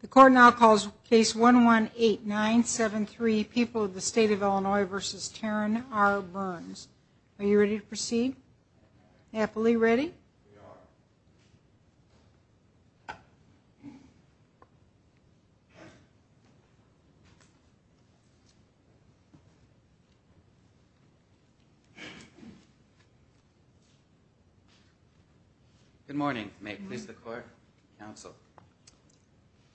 The court now calls case 118973, People of the State of Illinois v. Taryn R. Burns. Are you ready to proceed? Happily ready? We are. Good morning. May it please the court, counsel.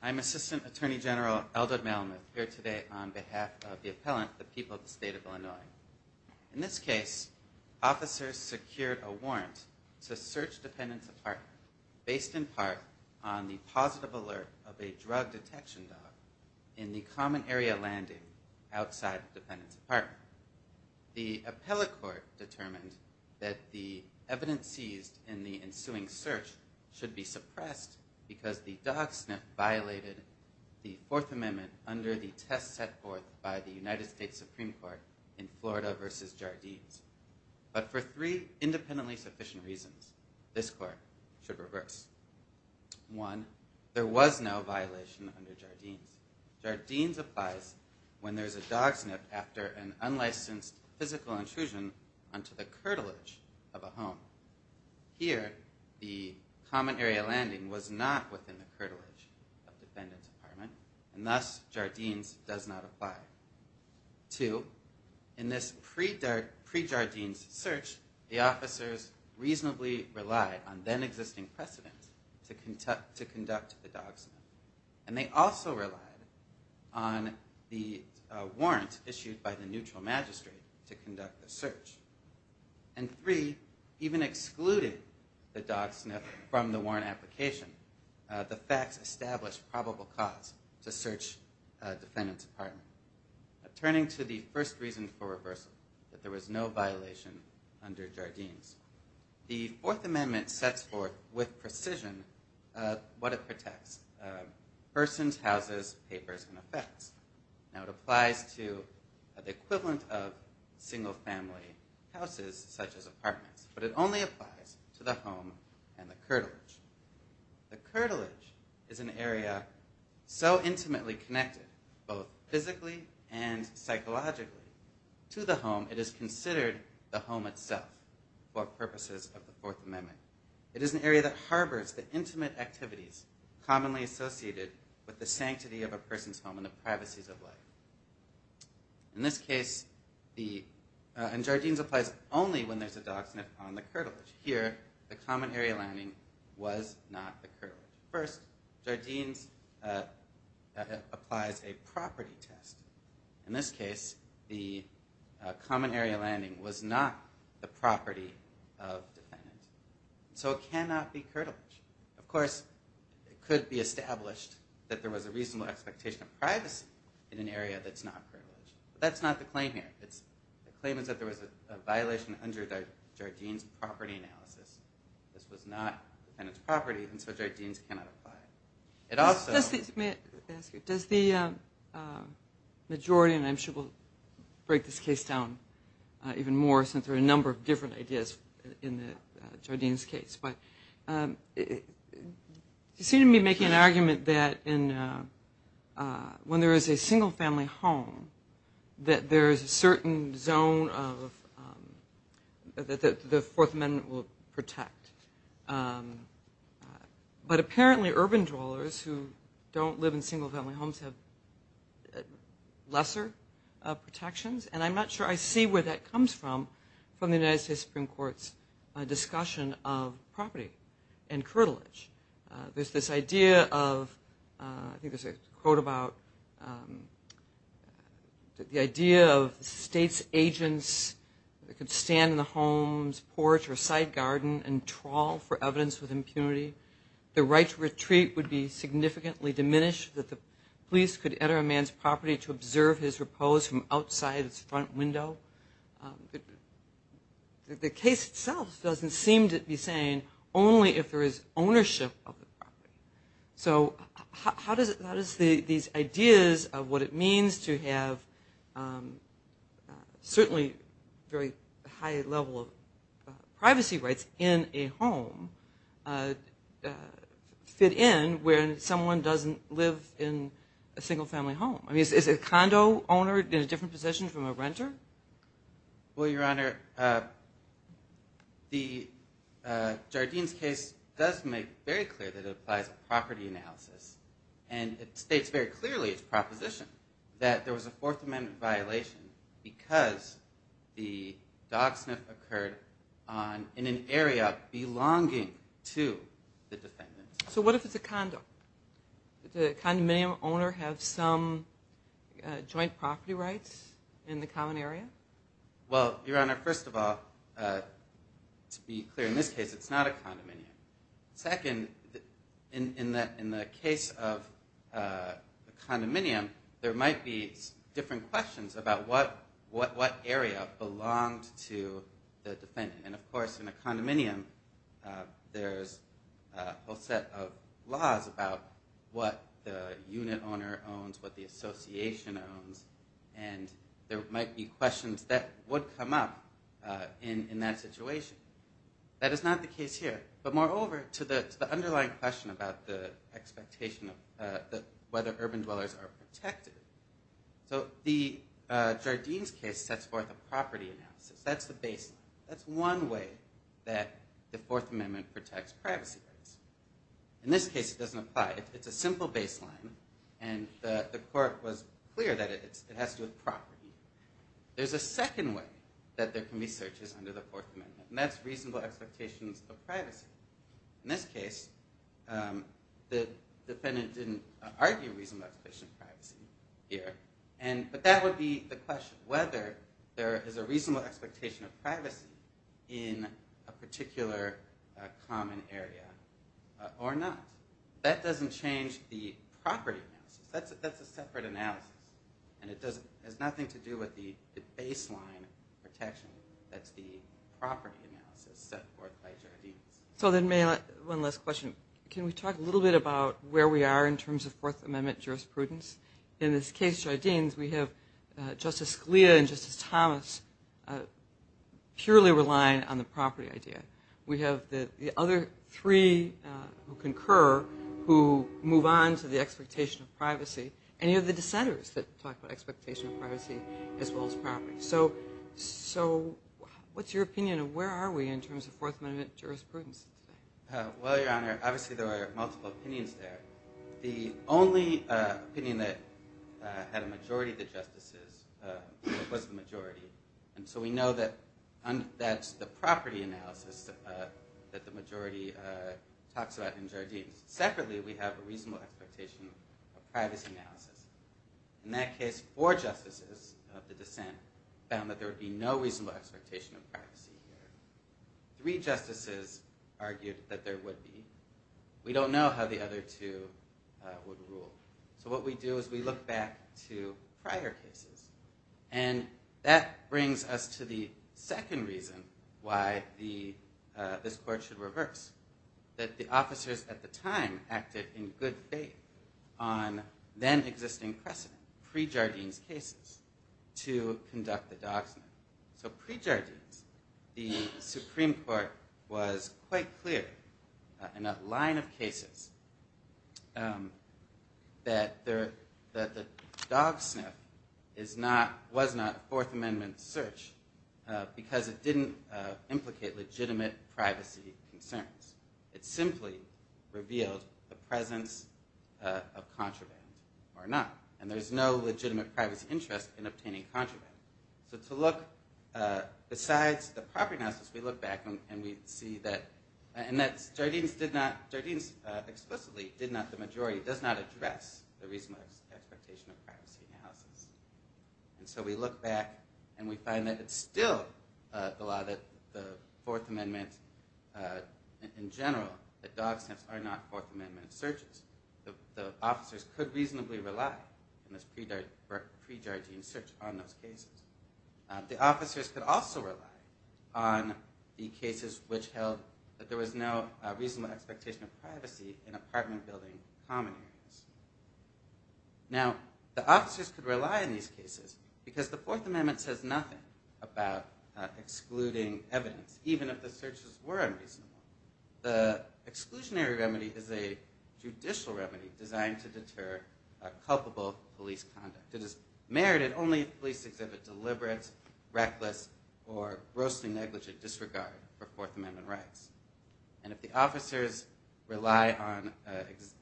I am Assistant Attorney General Eldred Malamuth here today on behalf of the appellant, the People of the State of Illinois. In this case, officers secured a warrant to search Dependents Apartment based in part on the positive alert of a drug detection dog in the common area landing outside Dependents Apartment. The appellate court determined that the evidence seized in the ensuing search should be suppressed because the dog sniff violated the Fourth Amendment under the test set forth by the defendant. But for three independently sufficient reasons, this court should reverse. One, there was no violation under Jardines. Jardines applies when there is a dog sniff after an unlicensed physical intrusion onto the curtilage of a home. Here, the common area landing was not within the curtilage of Dependents Apartment, and thus Jardines does not apply. Two, in this pre-Jardines search, the officers reasonably relied on then existing precedent to conduct the dog sniff, and they also relied on the warrant issued by the neutral magistrate to conduct the search. And three, even excluding the dog sniff from the warrant application, the facts established probable cause to search Dependents Apartment. Turning to the first reason for reversal, that there was no violation under Jardines. The Fourth Amendment sets forth with precision what it protects. Persons, houses, papers, and effects. Now it applies to the equivalent of single family houses such as apartments, but it only applies to the home and the curtilage. The curtilage is an area so intimately connected, both physically and psychologically, to the home it is considered the home itself for purposes of the Fourth Amendment. It is an area that harbors the intimate activities commonly associated with the sanctity of a person's home and the privacies of life. In this case, the, and Jardines applies only when there's a dog sniff on the curtilage. Here, the common area landing was not the property of the defendant. So it cannot be curtilage. Of course, it could be established that there was a reasonable expectation of privacy in an area that's not curtilage. But that's not the claim here. The claim is that there was a violation under the Jardines property analysis. This was not the defendant's property, and so Jardines cannot apply. It also... Does the majority, and I'm sure we'll break this case down even more since there are a number of different ideas in the Jardines case, but you seem to be making an argument that when there is a single family home that there is a certain zone that the Fourth Amendment will protect. But I don't live in single family homes that have lesser protections, and I'm not sure I see where that comes from from the United States Supreme Court's discussion of property and curtilage. There's this idea of, I think there's a quote about the idea of the state's agents could stand in the home's porch or side garden and trawl for evidence with impunity. The right to retreat would be significantly diminished that the police could enter a man's property to observe his repose from outside his front window. The case itself doesn't seem to be saying only if there is ownership of the property. So how does these ideas of what it means to have certainly very high level of privacy rights in a home fit in when someone doesn't live in a single family home? Is a condo owner in a different position from a renter? Well, Your Honor, Jardine's case does make very clear that it applies a property analysis, and it states very clearly its proposition that there was a Fourth Amendment violation because the dog sniff occurred in an area belonging to the defendant. So what if it's a condo? Does the condominium owner have some joint property rights in the common area? Well, Your Honor, first of all, to be clear, in this case it's not a condominium. Second, in the case of the condominium, there might be different questions about what area belonged to the defendant. And of course, in a condominium, there's a whole set of laws about what the unit owner owns, what the association owns, and there might be questions that would come up in that situation. That is not the case here. But moreover, to the underlying question about the expectation of whether urban dwellers are protected, so the Jardine's case sets forth a property analysis. That's the baseline. That's one way that the Fourth Amendment protects privacy. In this case, it doesn't apply. It's a simple baseline, and the court was clear that it has to do with property. There's a second way that there can be searches under the Fourth Amendment, and that's reasonable expectations of privacy. In this case, the defendant didn't argue reasonable expectation of privacy here. But that would be the question, whether there is a reasonable expectation of privacy in a particular common area or not. That doesn't change the property analysis. That's a separate analysis, and it has nothing to do with the baseline protection. That's the property analysis set forth by Jardines. So one last question. Can we talk a little bit about where we are in terms of Fourth Amendment jurisprudence? In this case, Jardines, we have Justice Scalia and Justice Thomas purely relying on the property idea. We have the other three who concur who move on to the expectation of privacy, and you have the dissenters that talk about expectation of privacy as well as property. So what's your opinion of where are we in terms of Fourth Amendment jurisprudence? Well, Your Honor, obviously there are multiple opinions there. The only opinion that had a majority of the justices was the majority, and so we know that that's the property analysis that the majority talks about in Jardines. Separately, we have a reasonable expectation of privacy analysis. In that case, four justices argued that there would be. We don't know how the other two would rule. So what we do is we look back to prior cases, and that brings us to the second reason why this court should reverse, that the officers at the time acted in pre-Jardines, the Supreme Court was quite clear in a line of cases that the dog sniff was not Fourth Amendment search because it didn't implicate legitimate privacy concerns. It simply revealed the presence of contraband or not, and there's no legitimate privacy interest in obtaining contraband. So to look besides the property analysis, we look back and we see that Jardines explicitly did not, the majority, does not address the reasonable expectation of privacy analysis. And so we look back and we find that it's still the law that the Fourth Amendment in general, that dog sniffs are not Fourth Amendment searches. The officers could reasonably rely in this pre-Jardines search on those cases. The officers could also rely on the cases which held that there was no reasonable expectation of privacy in apartment building common areas. Now, the officers could rely on these cases because the Fourth Amendment says nothing about excluding evidence, even if the searches were unreasonable. The exclusionary remedy is a judicial remedy designed to deter culpable police conduct. It is merited only if police exhibit deliberate, reckless, or grossly negligent disregard for Fourth Amendment rights. And if the officers rely on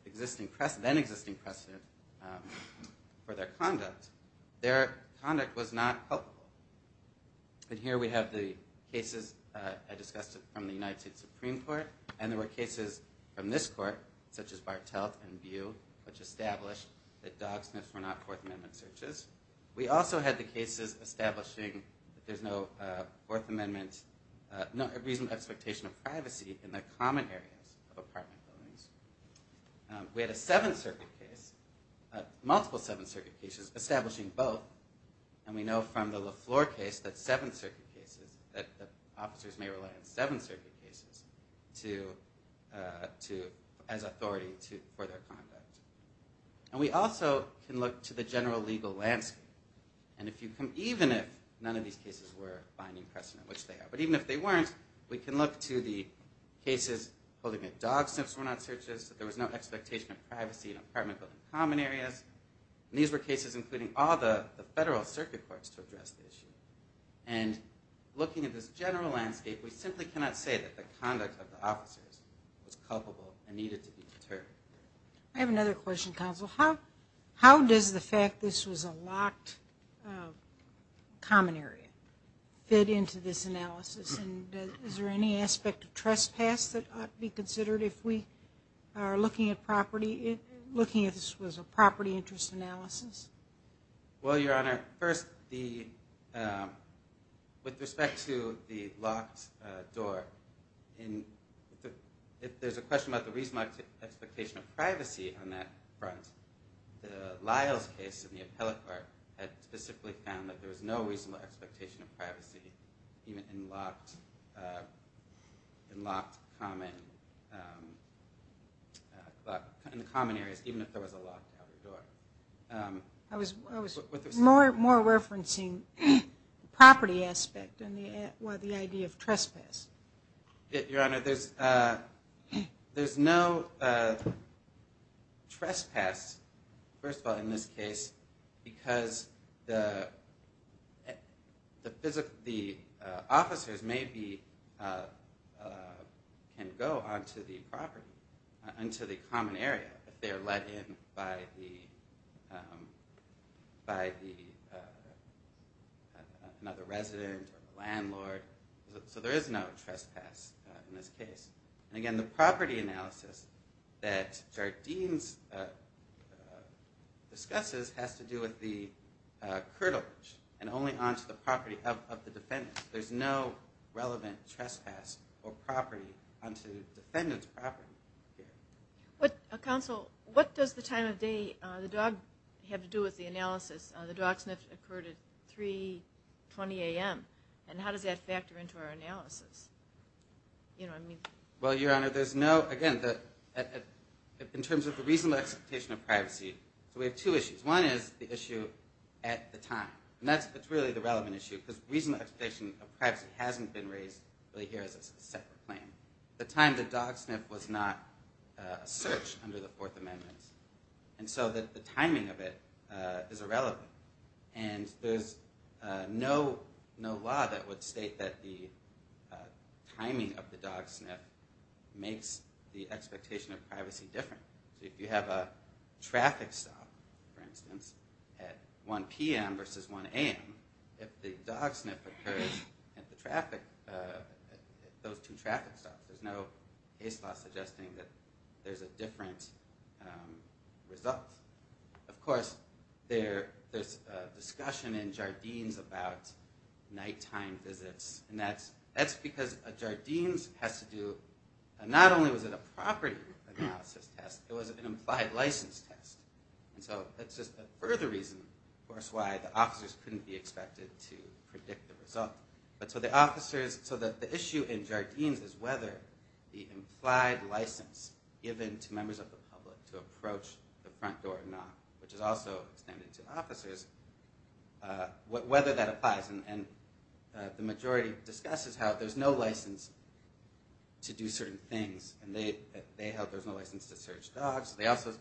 existing precedent, then existing precedent, for their conduct, their action, their behavior, it's not a matter of exclusionary remedy. Cases I discussed from the United States Supreme Court, and there were cases from this court, such as Bartelt and Bew, which established that dog sniffs were not Fourth Amendment searches. We also had the cases establishing that there's no Fourth Amendment, reasonable expectation of privacy in the common areas of apartment buildings. We had a Seventh Circuit case, multiple Seventh Circuit cases, establishing both. And we know from the LaFleur case, that Seventh Circuit cases, that the officers may rely on Seventh Circuit cases as authority for their conduct. And we also can look to the general legal landscape. And even if none of these cases were binding precedent, which they are, but even if they weren't, we can look to the cases holding that dog sniffs were not searches, that there was no expectation of privacy in apartment building common areas. And these were cases including all the federal circuit courts to address the issue. And looking at this general landscape, we simply cannot say that the conduct of the officers was culpable and needed to be deterred. I have another question, counsel. How does the fact this was a locked common area fit into this analysis? And is there any aspect of trespass that ought to be considered if we are looking at this as a property interest analysis? Well, Your Honor, first, with respect to the locked door, if there's a question about the reasonable expectation of privacy on that front, the Lyles case in the appellate court had specifically found that there was no reasonable expectation of privacy even in locked common areas, even if there was a locked outer door. I was more referencing the property aspect and the idea of trespass. Your Honor, there's no trespass, first of all, in this case, because the officers maybe can go onto the property, onto the defendant's property. There's no relevant trespass in this case. And again, the property analysis that Jardine's discusses has to do with the curtilage and only onto the property of the defendant. There's no relevant trespass or property onto the defendant's property. Counsel, what does the time of day, the dog, have to do with the analysis? The dog sniffed occurred at 3.20 a.m. And how does that factor into our analysis? Well, Your Honor, there's no, again, in terms of the reasonable expectation of privacy, we have two issues. One is the issue at the time. And that's really the relevant issue, because reasonable expectation of privacy hasn't been raised really here as a separate claim. The time the dog sniffed was not a search under the Fourth Amendment. And so the timing of it is irrelevant. And there's no law that would state that the timing of the dog sniff makes the expectation of privacy different. So if you have a traffic stop, for instance, at 1 p.m. versus 1 a.m., if the dog sniff occurs at those two traffic stops, there's no case law suggesting that there's a different result. Of course, there's a discussion in Jardines about nighttime visits. And that's because Jardines has to do, not only was it a property analysis test, it was an implied license test. And so that's just a further reason, of course, why the officers couldn't be expected to predict the result. But so the officers, so the issue in Jardines is whether the implied license given to members of the public to approach the front door or not, which is also extended to officers, whether that applies. And the majority discusses how there's no license to do certain things. And they held there's no license to search dogs. They also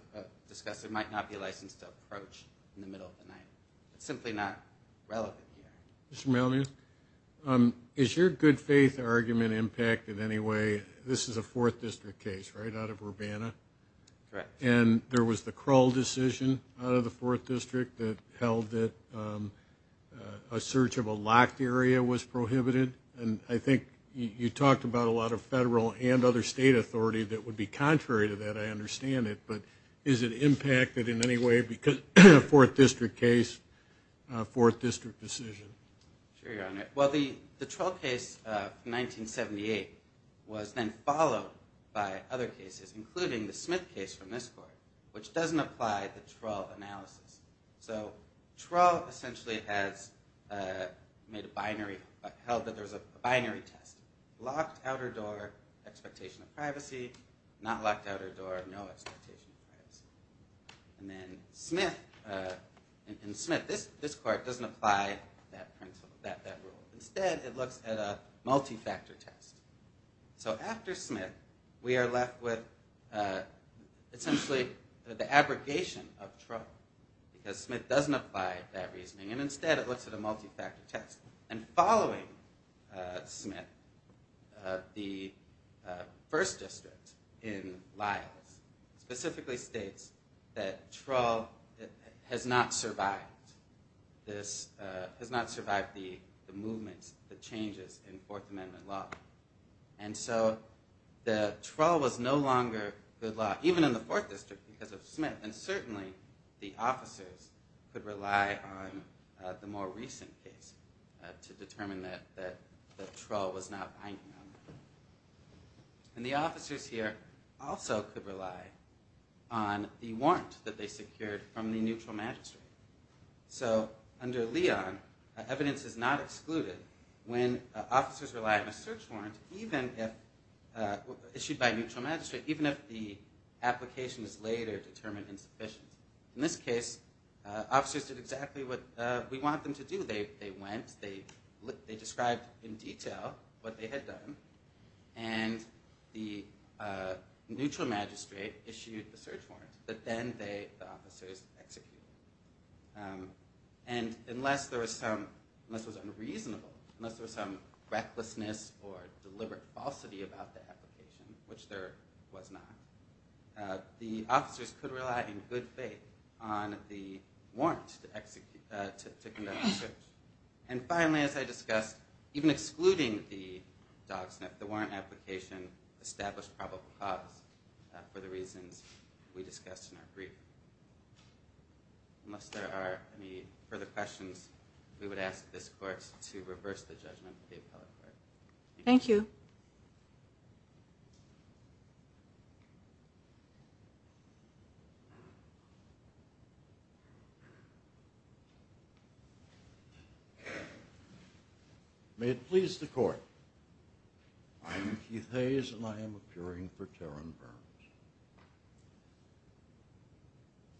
discussed there might not be a license to approach in the middle of the night. It's simply not relevant here. Is your good faith argument impacted in any way? This is a 4th District case, right, out of Urbana? Correct. And there was the Krull decision out of the 4th District that held that a search of a locked area was prohibited. And I think you talked about a lot of federal and other state authority that would be contrary to that. I understand it. But is it impacted in any way because of a 4th District case, a 4th District decision? Sure, Your Honor. Well, the Trull case of 1978 was then followed by other cases, including the Smith case from this court, which doesn't apply the Trull analysis. So Trull essentially has made a binary, held that there's a binary test. Locked outer door, expectation of privacy. Not locked outer door, no expectation of privacy. And then Smith, this court doesn't apply that rule. Instead, it looks at a multi-factor test. So after Smith, we are left with essentially the abrogation of Trull, because Smith doesn't apply that reasoning. And instead, it looks at a multi-factor test. And following Smith, the 1st District in Lyles specifically states that Trull has not survived the movements, the changes in 4th Amendment law. And so the Trull was no longer good law, even in the 4th District because of Smith. And certainly, the officers could rely on the more recent case to determine that Trull was not binding on them. And the officers here also could rely on the warrant that they secured from the neutral magistrate. So under Leon, evidence is not excluded when officers rely on a search warrant issued by neutral magistrate, even if the application is later determined insufficient. In this case, officers did exactly what we want them to do. They went, they described in detail what they had done, and the neutral magistrate issued the search warrant that then the officers executed. And unless there was some, unless it was unreasonable, unless there was some belief or faith on the warrant to conduct the search. And finally, as I discussed, even excluding the dog sniff, the warrant application established probable cause for the reasons we discussed in our briefing. Unless there are any further questions, we would ask this question. May it please the court. I am Keith Hayes, and I am appearing for Terran Burns.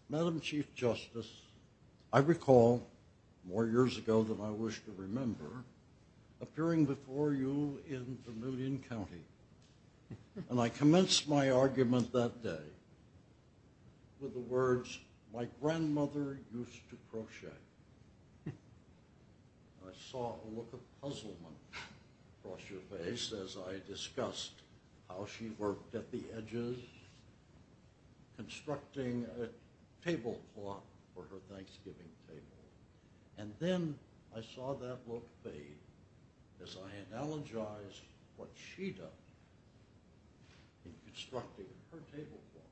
Madam Chief Justice, I recall more years ago than I wish to my grandmother used to crochet. I saw a look of puzzlement across her face as I discussed how she worked at the edges, constructing a table clock for her Thanksgiving table. And then I saw that look fade as I analogized what she does in constructing her table clock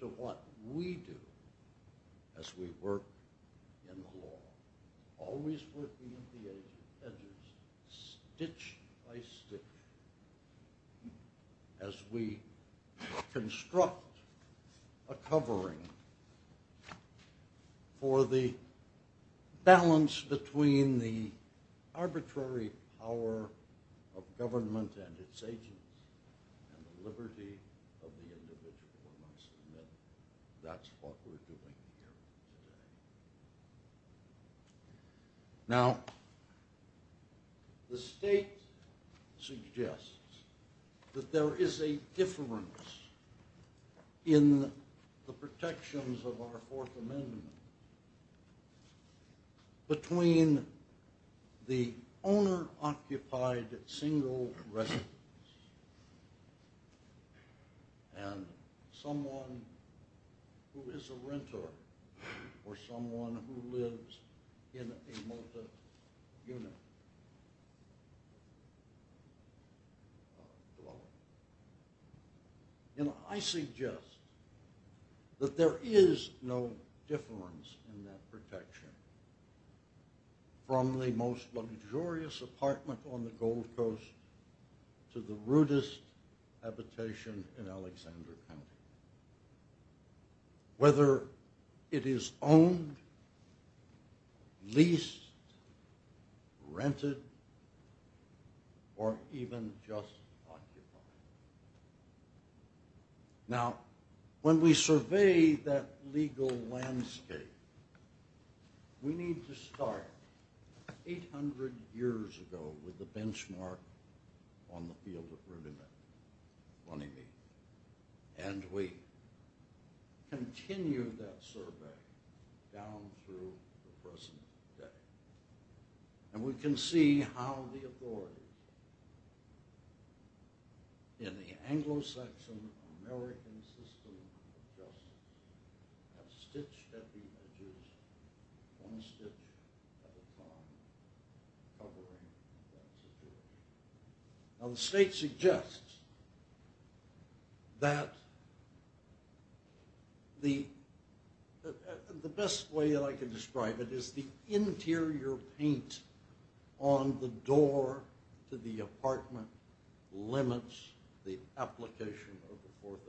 to what we do as we work in the law, always working at the edges, stitch by stitch as we construct a covering for the balance between the arbitrary power of government and its agents and the liberty of the individual. That's what we're doing here today. Now, the state suggests that there is a difference in the protections of our Fourth Amendment between the owner-occupied single residence and someone who is a renter or someone who lives in a multi-unit dwelling. And I suggest that there is no difference in that protection from the most luxurious apartment on the Gold Coast to the rudest habitation in Alexander County, whether it is owned, leased, rented, or even just occupied. Now, when we survey that legal landscape, we need to start 800 years ago with a benchmark on the field of continue that survey down through the present day. And we can see how the authorities in the Anglo-Saxon American system of justice have stitched at the edges, one stitch at a time, covering that situation. Now, the state suggests that the best way that I can describe it is the interior paint on the door to the apartment limits the application of the Fourth Amendment protection.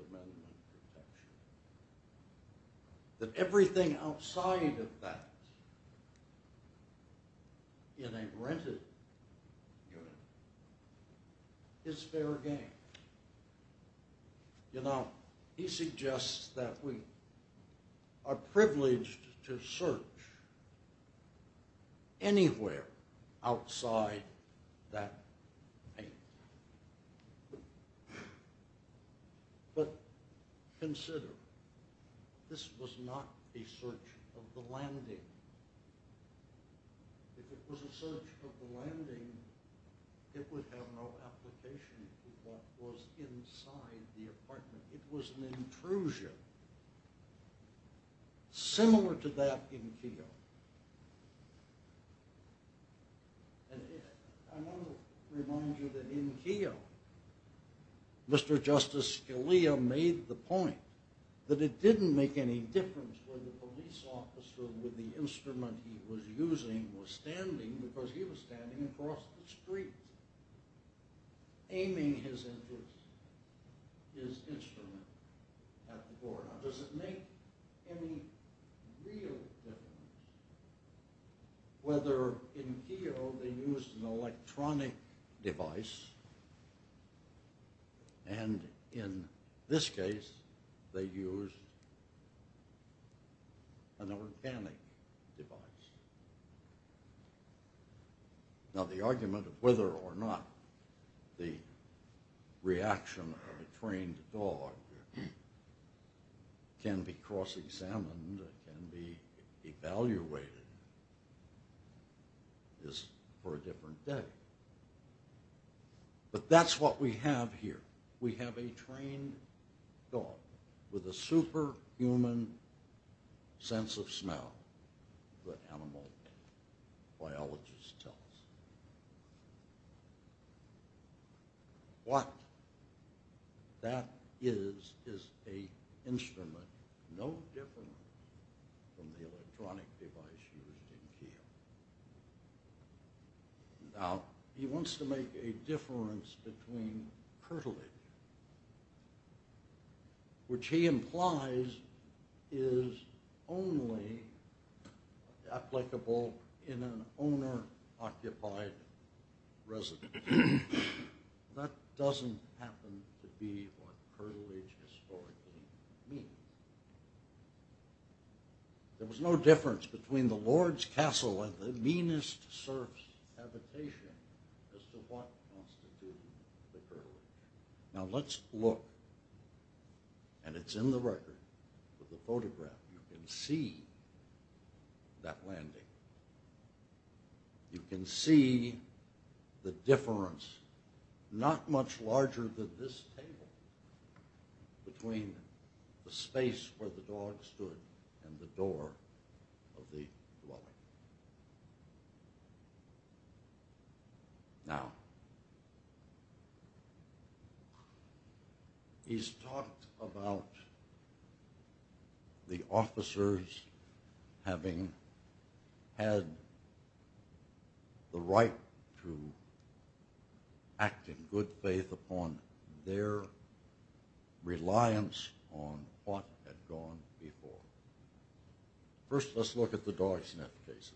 That everything outside of that in a rented unit is fair game. You know, he suggests that we are privileged to search anywhere outside that paint. But consider, this was not a search of the landing. If it was a search of the landing, it would have no application to what was inside the apartment. It was an intrusion, similar to that in Keogh. And I want to remind you that in Keogh, Mr. Justice Scalia made the point that it didn't make any difference whether the police officer with the instrument he was using was standing, because he was standing across the street aiming his instrument at the door. Now, does it make any real difference whether in Keogh they used an electronic device and in this case they used an organic device? Now, the argument of whether or not the reaction of a trained dog can be cross-examined and can be evaluated is for a different day. But that's what we have here. We have a trained dog with a superhuman sense of smell that animal biologists tell us. What that is is an instrument no different from the electronic device used in Keogh. Now, he wants to make a difference between curtilage, which he implies is only applicable in an owner-occupied residence. That doesn't happen to be what curtilage historically means. There was no difference between the lord's castle and the meanest serf's habitation as to what constitutes the curtilage. Now, let's look, and it's in the record with the photograph, you can see that landing. You can see the difference, not much larger than this table, between the space where the dog stood and the door of the dwelling. Now, he's talked about the officers having had the right to act in good faith upon their reliance on what had gone before. First, let's look at the dog sniff cases.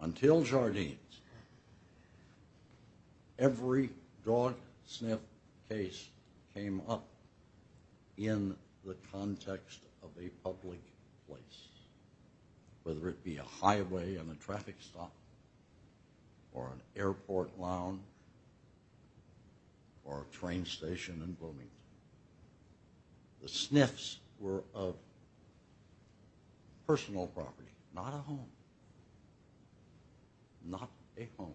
Until Jardines, every dog sniff case came up in the context of a public place, whether it be a highway and a traffic stop or an airport lounge or a train station in Bloomington. The sniffs were of personal property, not a home, not a home.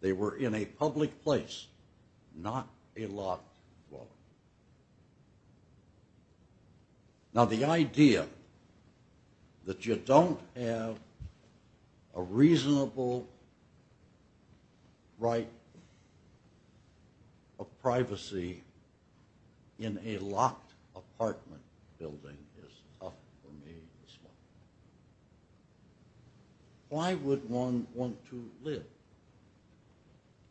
They were in a public place, not a locked dwelling. Now, the idea that you don't have a reasonable right of privacy in a locked apartment building is tough for me to swallow. Why would one want to live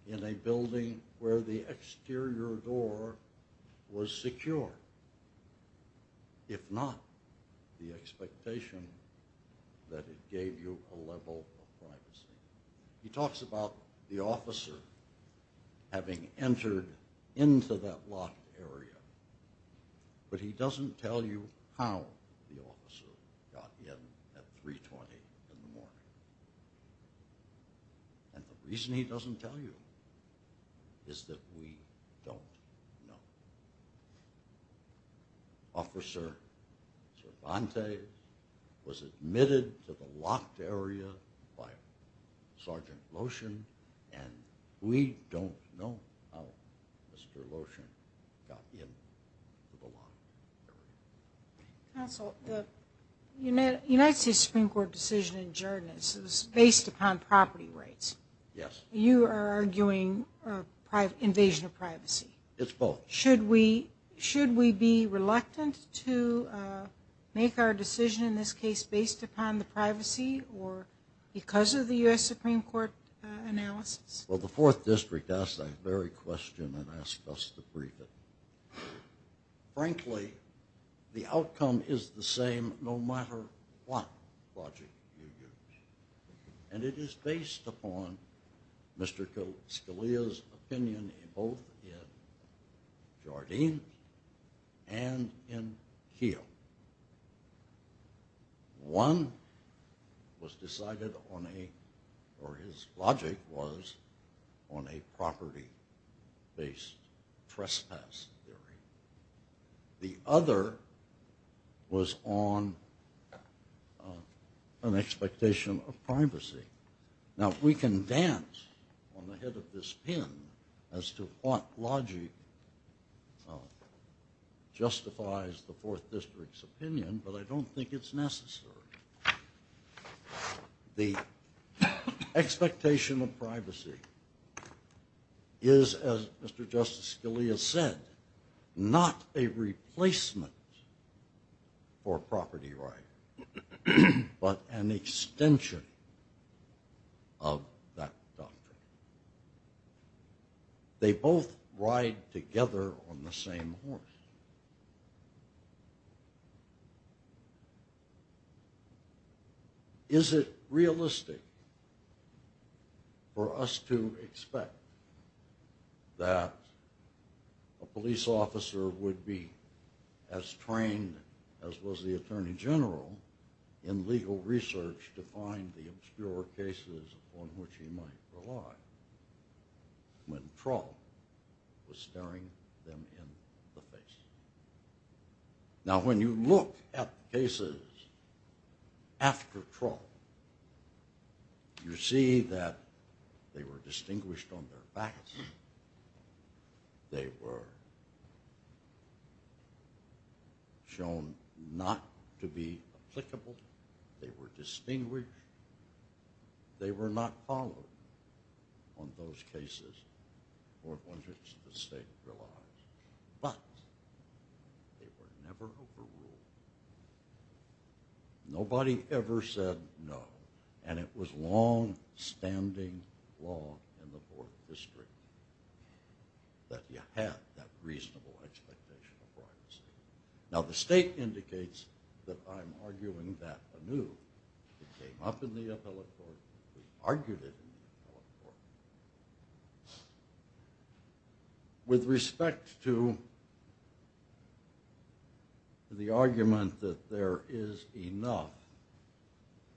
in a building where the exterior door was secure, if not the expectation that it gave you a level of privacy? He talks about the officer having entered into that locked area, but he doesn't tell you how the officer got in at 3.20 in the morning. And the reason he doesn't tell you is that we don't know. Officer Cervantes was admitted to the locked area by Sergeant Lotion, and we don't know how Mr. Lotion got into the locked area. Counsel, the United States Supreme Court decision in Jardines is based upon property rights. Yes. You are arguing invasion of privacy. It's both. Should we be reluctant to make our decision in this case based upon the privacy or because of the U.S. Supreme Court analysis? Well, the Fourth District asked that very question and asked us to brief it. Frankly, the outcome is the same no matter what logic you use, and it is based upon Mr. Scalia's opinion both in Jardines and in Keogh. One was decided on a, or his logic was on a property-based trespass theory. The other was on an expectation of privacy. Now, we can dance on the head of this pin as to what logic justifies the Fourth District's opinion, but I don't think it's necessary. The expectation of privacy is, as Mr. Justice Scalia said, not a replacement for property rights, but an extension of that doctrine. They both ride together on the same horse. Is it realistic for us to expect that a police officer would be as trained as was the Attorney General in legal research to find the obscure cases on which he might rely when Troll was staring them in the face? Now, when you look at cases after Troll, you see that they were distinguished on their facts. They were shown not to be applicable. They were distinguished. They were not followed on those cases for which the state relies. But they were never overruled. Nobody ever said no, and it was long-standing law in the Fourth District that you had that reasonable expectation of privacy. Now, the state indicates that I'm arguing that anew. It came up in the appellate court. We argued it in the appellate court. With respect to the argument that there is enough,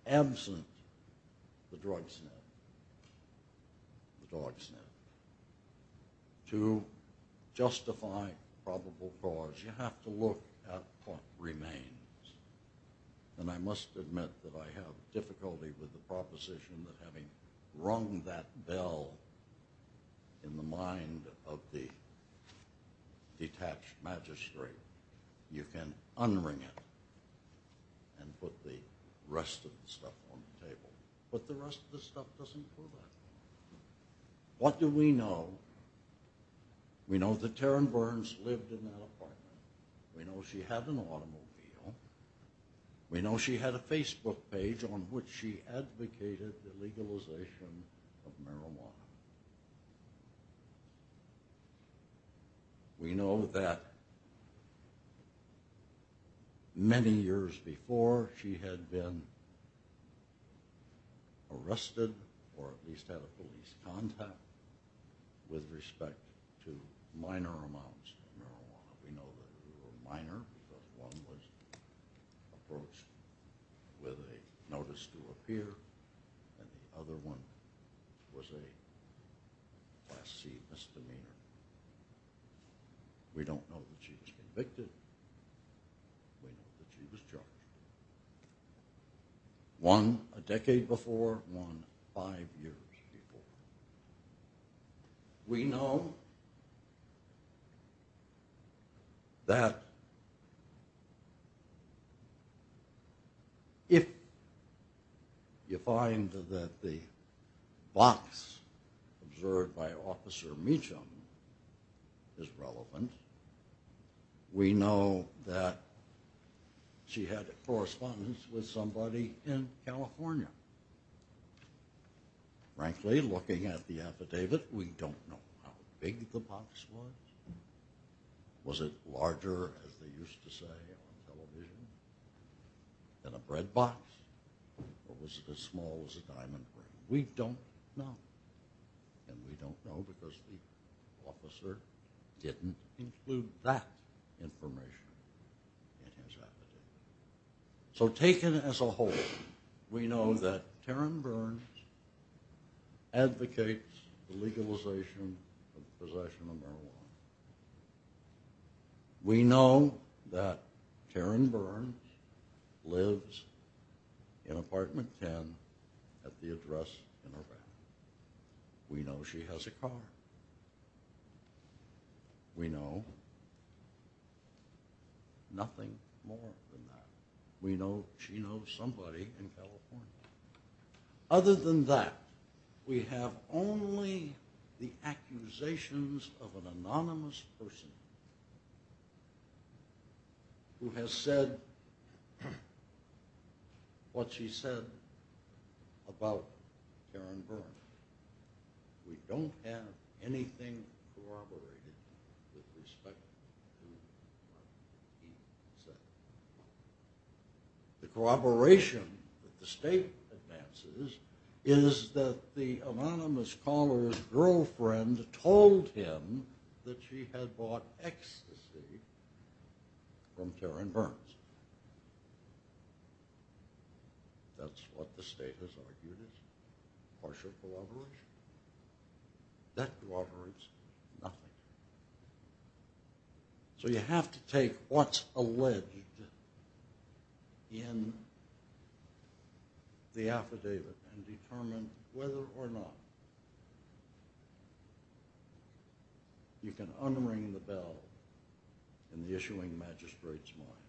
absent the drug snub, the dog snub, to justify probable cause, you have to look at what remains. And I must admit that I have difficulty with the proposition that having rung that bell in the mind of the detached magistrate, you can unring it and put the rest of the stuff on the table. But the rest of the stuff doesn't prove it. What do we know? We know that Taryn Burns lived in that apartment. We know she had an automobile. We know she had a Facebook page on which she advocated the legalization of marijuana. We know that many years before, she had been arrested or at least had a police contact with respect to minor amounts of marijuana. We know that it was a minor because one was approached with a notice to appear and the other one was a class C misdemeanor. We don't know that she was convicted. We know that she was charged. One a decade before, one five years before. We know that if you find that the box observed by Officer Meacham is relevant, we know that she had a correspondence with somebody in California. Frankly, looking at the affidavit, we don't know how big the box was. Was it larger, as they used to say on television, than a bread box? Or was it as small as a diamond ring? We don't know. And we don't know because the officer didn't include that information in his affidavit. So taken as a whole, we know that Taryn Burns advocates the legalization of possession of marijuana. We know that Taryn Burns lives in Apartment 10 at the address in her bag. We know she has a car. We know nothing more than that. We know she knows somebody in California. Other than that, we have only the accusations of an anonymous person who has said what she said about Taryn Burns. We don't have anything corroborated with respect to what he said. The corroboration that the state advances is that the anonymous caller's girlfriend told him that she had bought ecstasy from Taryn Burns. That's what the state has argued is partial corroboration. That corroborates nothing. So you have to take what's alleged in the affidavit and determine whether or not you can unring the bell in the issuing magistrate's mind.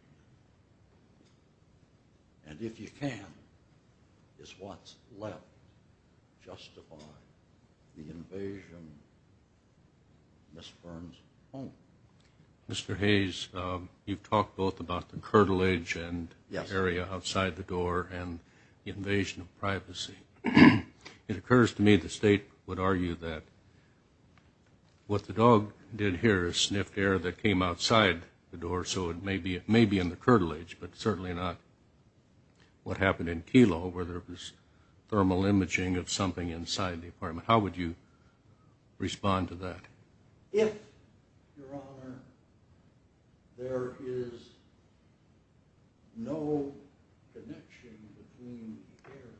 And if you can, it's what's left justifying the invasion of Ms. Burns' home. Mr. Hayes, you've talked both about the curtilage and the area outside the door and the invasion of privacy. It occurs to me the state would argue that what the dog did here is sniffed air that came outside the door, so it may be in the curtilage, but certainly not what happened in Kelo, where there was thermal imaging of something inside the apartment. How would you respond to that? If, Your Honor, there is no connection between the air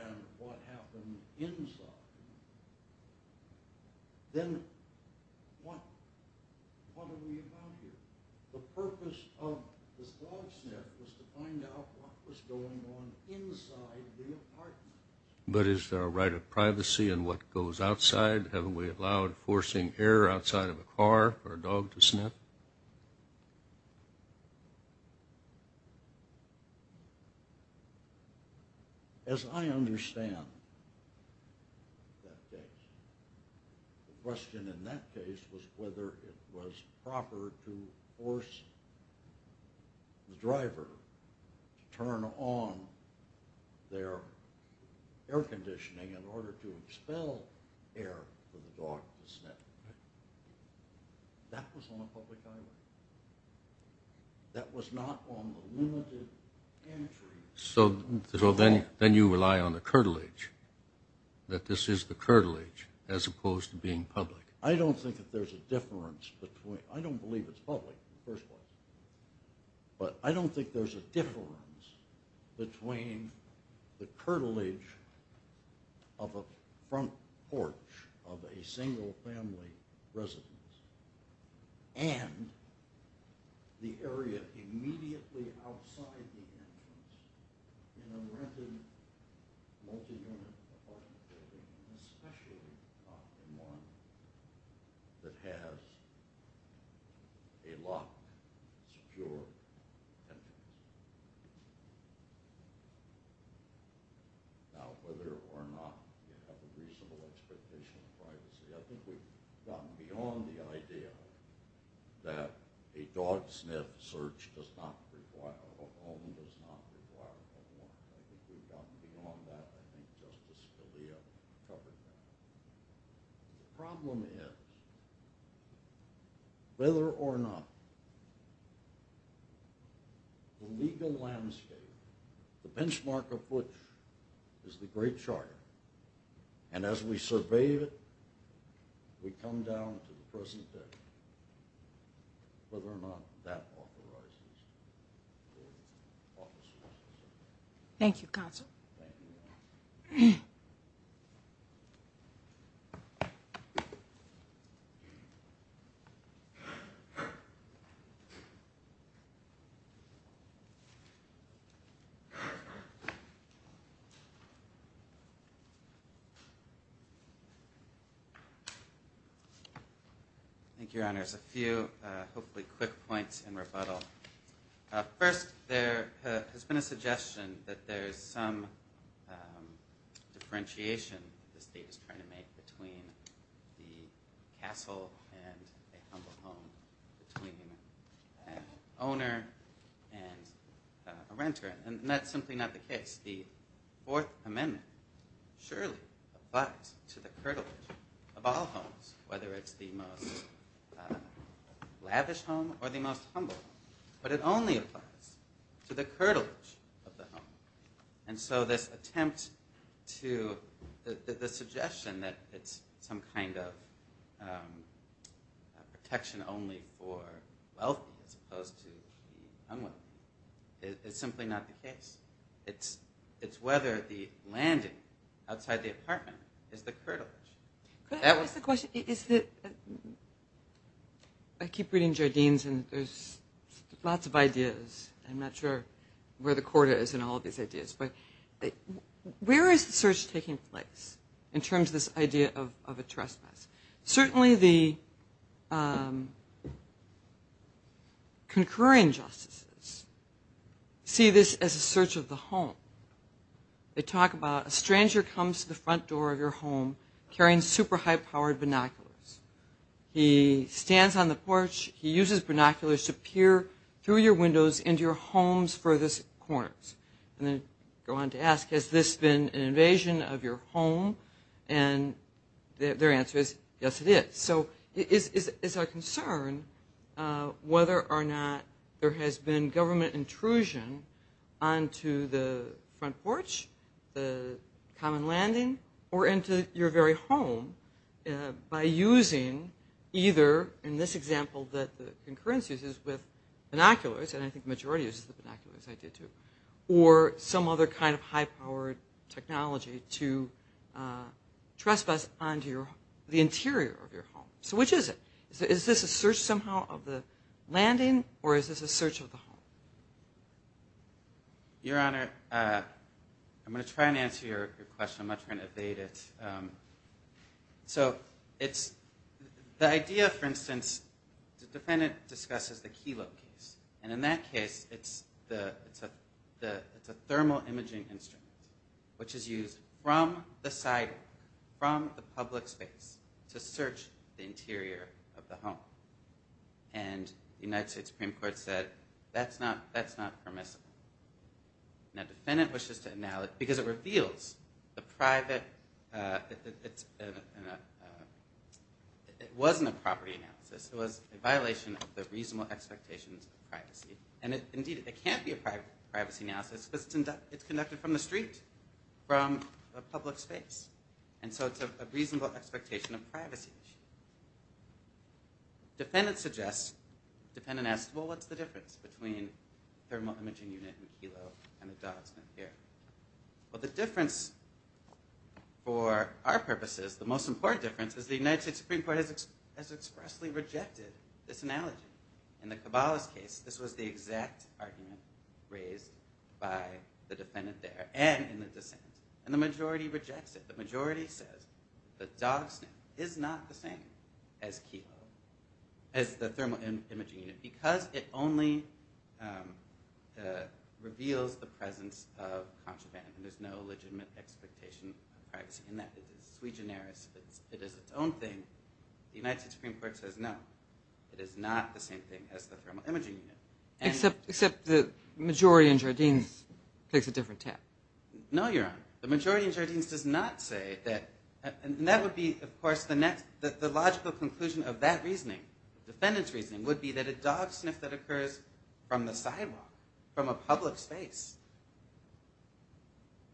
outside and what happened inside, then what are we about here? The purpose of this dog sniff was to find out what was going on inside the apartment. But is there a right of privacy in what goes outside? Haven't we allowed forcing air outside of a car for a dog to sniff? As I understand that case, the question in that case was whether it was proper to force the driver to turn on their air conditioning in order to expel air for the dog to sniff. That was on a public island. That was not on the limited entry. So then you rely on the curtilage, that this is the curtilage as opposed to being public. I don't think that there's a difference between – I don't believe it's public in the first place. But I don't think there's a difference between the curtilage of a front porch of a single-family residence and the area immediately outside the entrance in a rented multi-unit apartment building, especially not in one that has a locked, secure entrance. Now, whether or not you have a reasonable expectation of privacy, I think we've gotten beyond the idea that a dog sniff search does not require a warrant. I think we've gotten beyond that. I think Justice Scalia covered that. The problem is, whether or not the legal landscape, the benchmark of which is the Great Charter, and as we survey it, we come down to the present day, whether or not that authorizes warrant officers. Thank you, Counsel. Thank you, Your Honor. Thank you, Your Honor. A few, hopefully, quick points in rebuttal. First, there has been a suggestion that there's some differentiation the state is trying to make between the castle and a humble home between an owner and a renter. And that's simply not the case. The Fourth Amendment surely applies to the curtilage of all homes, whether it's the most lavish home or the most humble home, but it only applies to the curtilage of the home. And so this attempt to, the suggestion that it's some kind of protection only for wealthy as opposed to the unwealthy is simply not the case. It's whether the landing outside the apartment is the curtilage. Could I ask a question? I keep reading Jardines, and there's lots of ideas. I'm not sure where the quarter is in all of these ideas. But where is the search taking place in terms of this idea of a trespass? Certainly the concurring justices see this as a search of the home. They talk about a stranger comes to the front door of your home carrying super high-powered binoculars. He stands on the porch. He uses binoculars to peer through your windows into your home's furthest corners. And they go on to ask, Has this been an invasion of your home? And their answer is, Yes, it is. So is our concern whether or not there has been government intrusion onto the front porch, the common landing, or into your very home by using either, in this example that the concurrence uses with binoculars, and I think the majority uses the binoculars, I did too, or some other kind of high-powered technology to trespass onto the interior of your home. So which is it? Is this a search somehow of the landing, or is this a search of the home? Your Honor, I'm going to try and answer your question. I'm not trying to evade it. So the idea, for instance, the defendant discusses the Kelo case. And in that case, it's a thermal imaging instrument, which is used from the sidewalk, from the public space, to search the interior of the home. And the United States Supreme Court said, That's not permissible. Now, the defendant wishes to analyze, because it reveals the private, it wasn't a property analysis. It was a violation of the reasonable expectations of privacy. And indeed, it can't be a privacy analysis, because it's conducted from the street, from a public space. And so it's a reasonable expectation of privacy. Defendant suggests, defendant asks, Well, what's the difference between thermal imaging unit and Kelo, and the dots here? Well, the difference, for our purposes, the most important difference, is the United States Supreme Court has expressly rejected this analogy. In the Caballos case, this was the exact argument raised by the defendant there, and in the dissent. And the majority rejects it. The majority says the dog sniff is not the same as Kelo, as the thermal imaging unit, because it only reveals the presence of contraband, and there's no legitimate expectation of privacy in that. It is sui generis. It is its own thing. The United States Supreme Court says, No, it is not the same thing as the thermal imaging unit. Except the majority in Jardines takes a different tap. No, Your Honor. The majority in Jardines does not say that, and that would be, of course, the logical conclusion of that reasoning, the defendant's reasoning, would be that a dog sniff that occurs from the sidewalk, from a public space,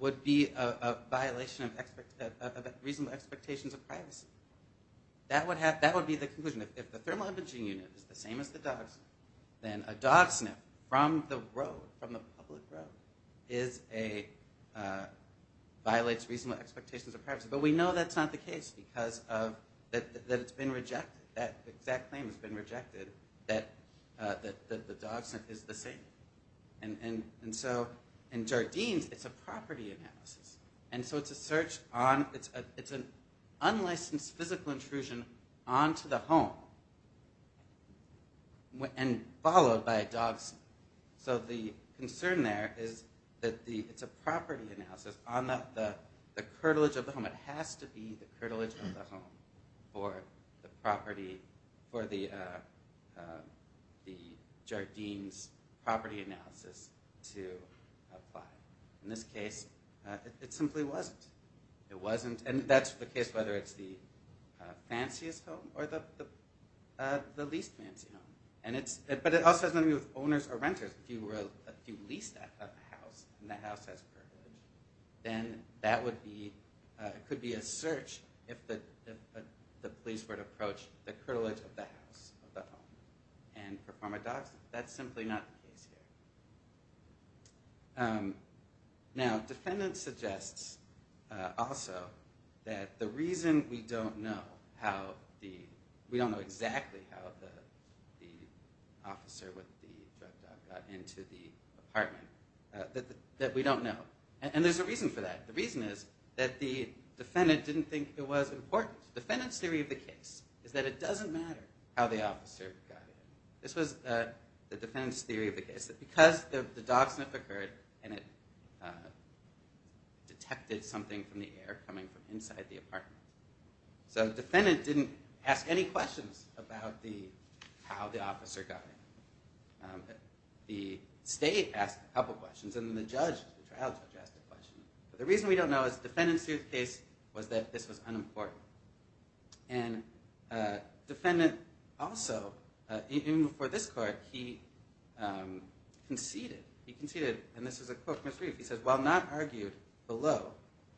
would be a violation of reasonable expectations of privacy. That would be the conclusion. If the thermal imaging unit is the same as the dog sniff, then a dog sniff from the road, from the public road, violates reasonable expectations of privacy. But we know that's not the case, because it's been rejected. That exact claim has been rejected, that the dog sniff is the same. And so in Jardines, it's a property analysis. And so it's an unlicensed physical intrusion onto the home, and followed by a dog sniff. So the concern there is that it's a property analysis on the curtilage of the home. It has to be the curtilage of the home for the Jardines property analysis to apply. In this case, it simply wasn't. And that's the case whether it's the fanciest home or the least fancy home. But it also has to do with owners or renters. If you lease a house and that house has curtilage, then that could be a search if the police were to approach the curtilage of the house, of the home, and perform a dog sniff. That's simply not the case here. Now, defendants suggest also that the reason we don't know how the, we don't know exactly how the officer with the drug dog got into the apartment, that we don't know. And there's a reason for that. The reason is that the defendant didn't think it was important. Defendant's theory of the case is that it doesn't matter how the officer got in. This was the defendant's theory of the case, that because the dog sniff occurred and it detected something from the air coming from inside the apartment. So the defendant didn't ask any questions about how the officer got in. The state asked a couple questions, and then the judge, the trial judge, asked a question. But the reason we don't know is the defendant's theory of the case was that this was unimportant. And defendant also, even before this court, he conceded. He conceded, and this is a quote from his brief. He says, while not argued below,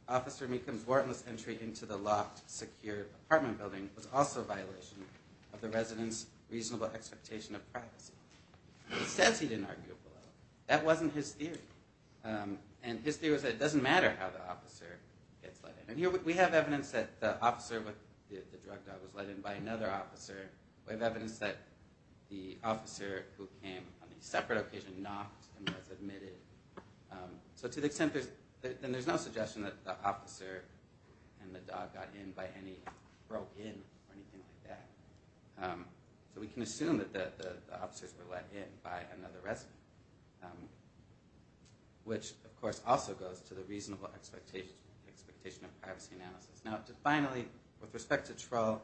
Officer Mecham's warrantless entry into the locked, secure apartment building was also a violation of the resident's reasonable expectation of privacy. He says he didn't argue below. That wasn't his theory. And his theory was that it doesn't matter how the officer gets let in. And here we have evidence that the officer with the drug dog was let in by another officer. We have evidence that the officer who came on a separate occasion knocked and was admitted. And there's no suggestion that the officer and the dog got in by any throw-in or anything like that. So we can assume that the officers were let in by another resident. Which, of course, also goes to the reasonable expectation of privacy analysis. Now, finally, with respect to Troll,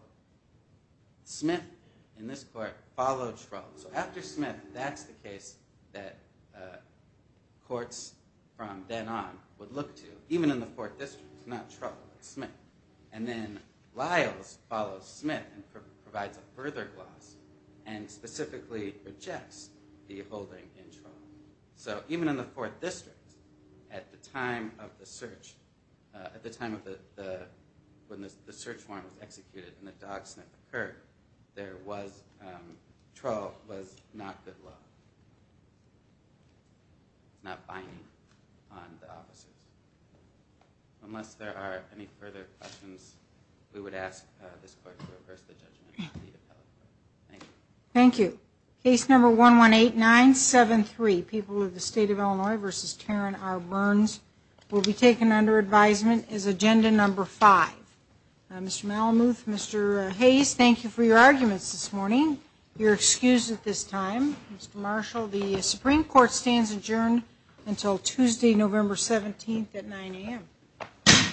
Smith, in this court, followed Troll. So after Smith, that's the case that courts from then on would look to. Even in the Fourth District, it's not Troll, it's Smith. And then Lyles follows Smith and provides a further gloss and specifically rejects the holding in Troll. So even in the Fourth District, at the time of the search, at the time when the search warrant was executed and the dog sniff occurred, there was Troll was not good luck. Not binding on the officers. Unless there are any further questions, we would ask this court to reverse the judgment. Thank you. Thank you. Case number 118973, people of the State of Illinois v. Taryn R. Burns, will be taken under advisement as Agenda Number 5. Mr. Malamuth, Mr. Hayes, thank you for your arguments this morning. You're excused at this time. Mr. Marshall, the Supreme Court stands adjourned until Tuesday, November 17th at 9 a.m.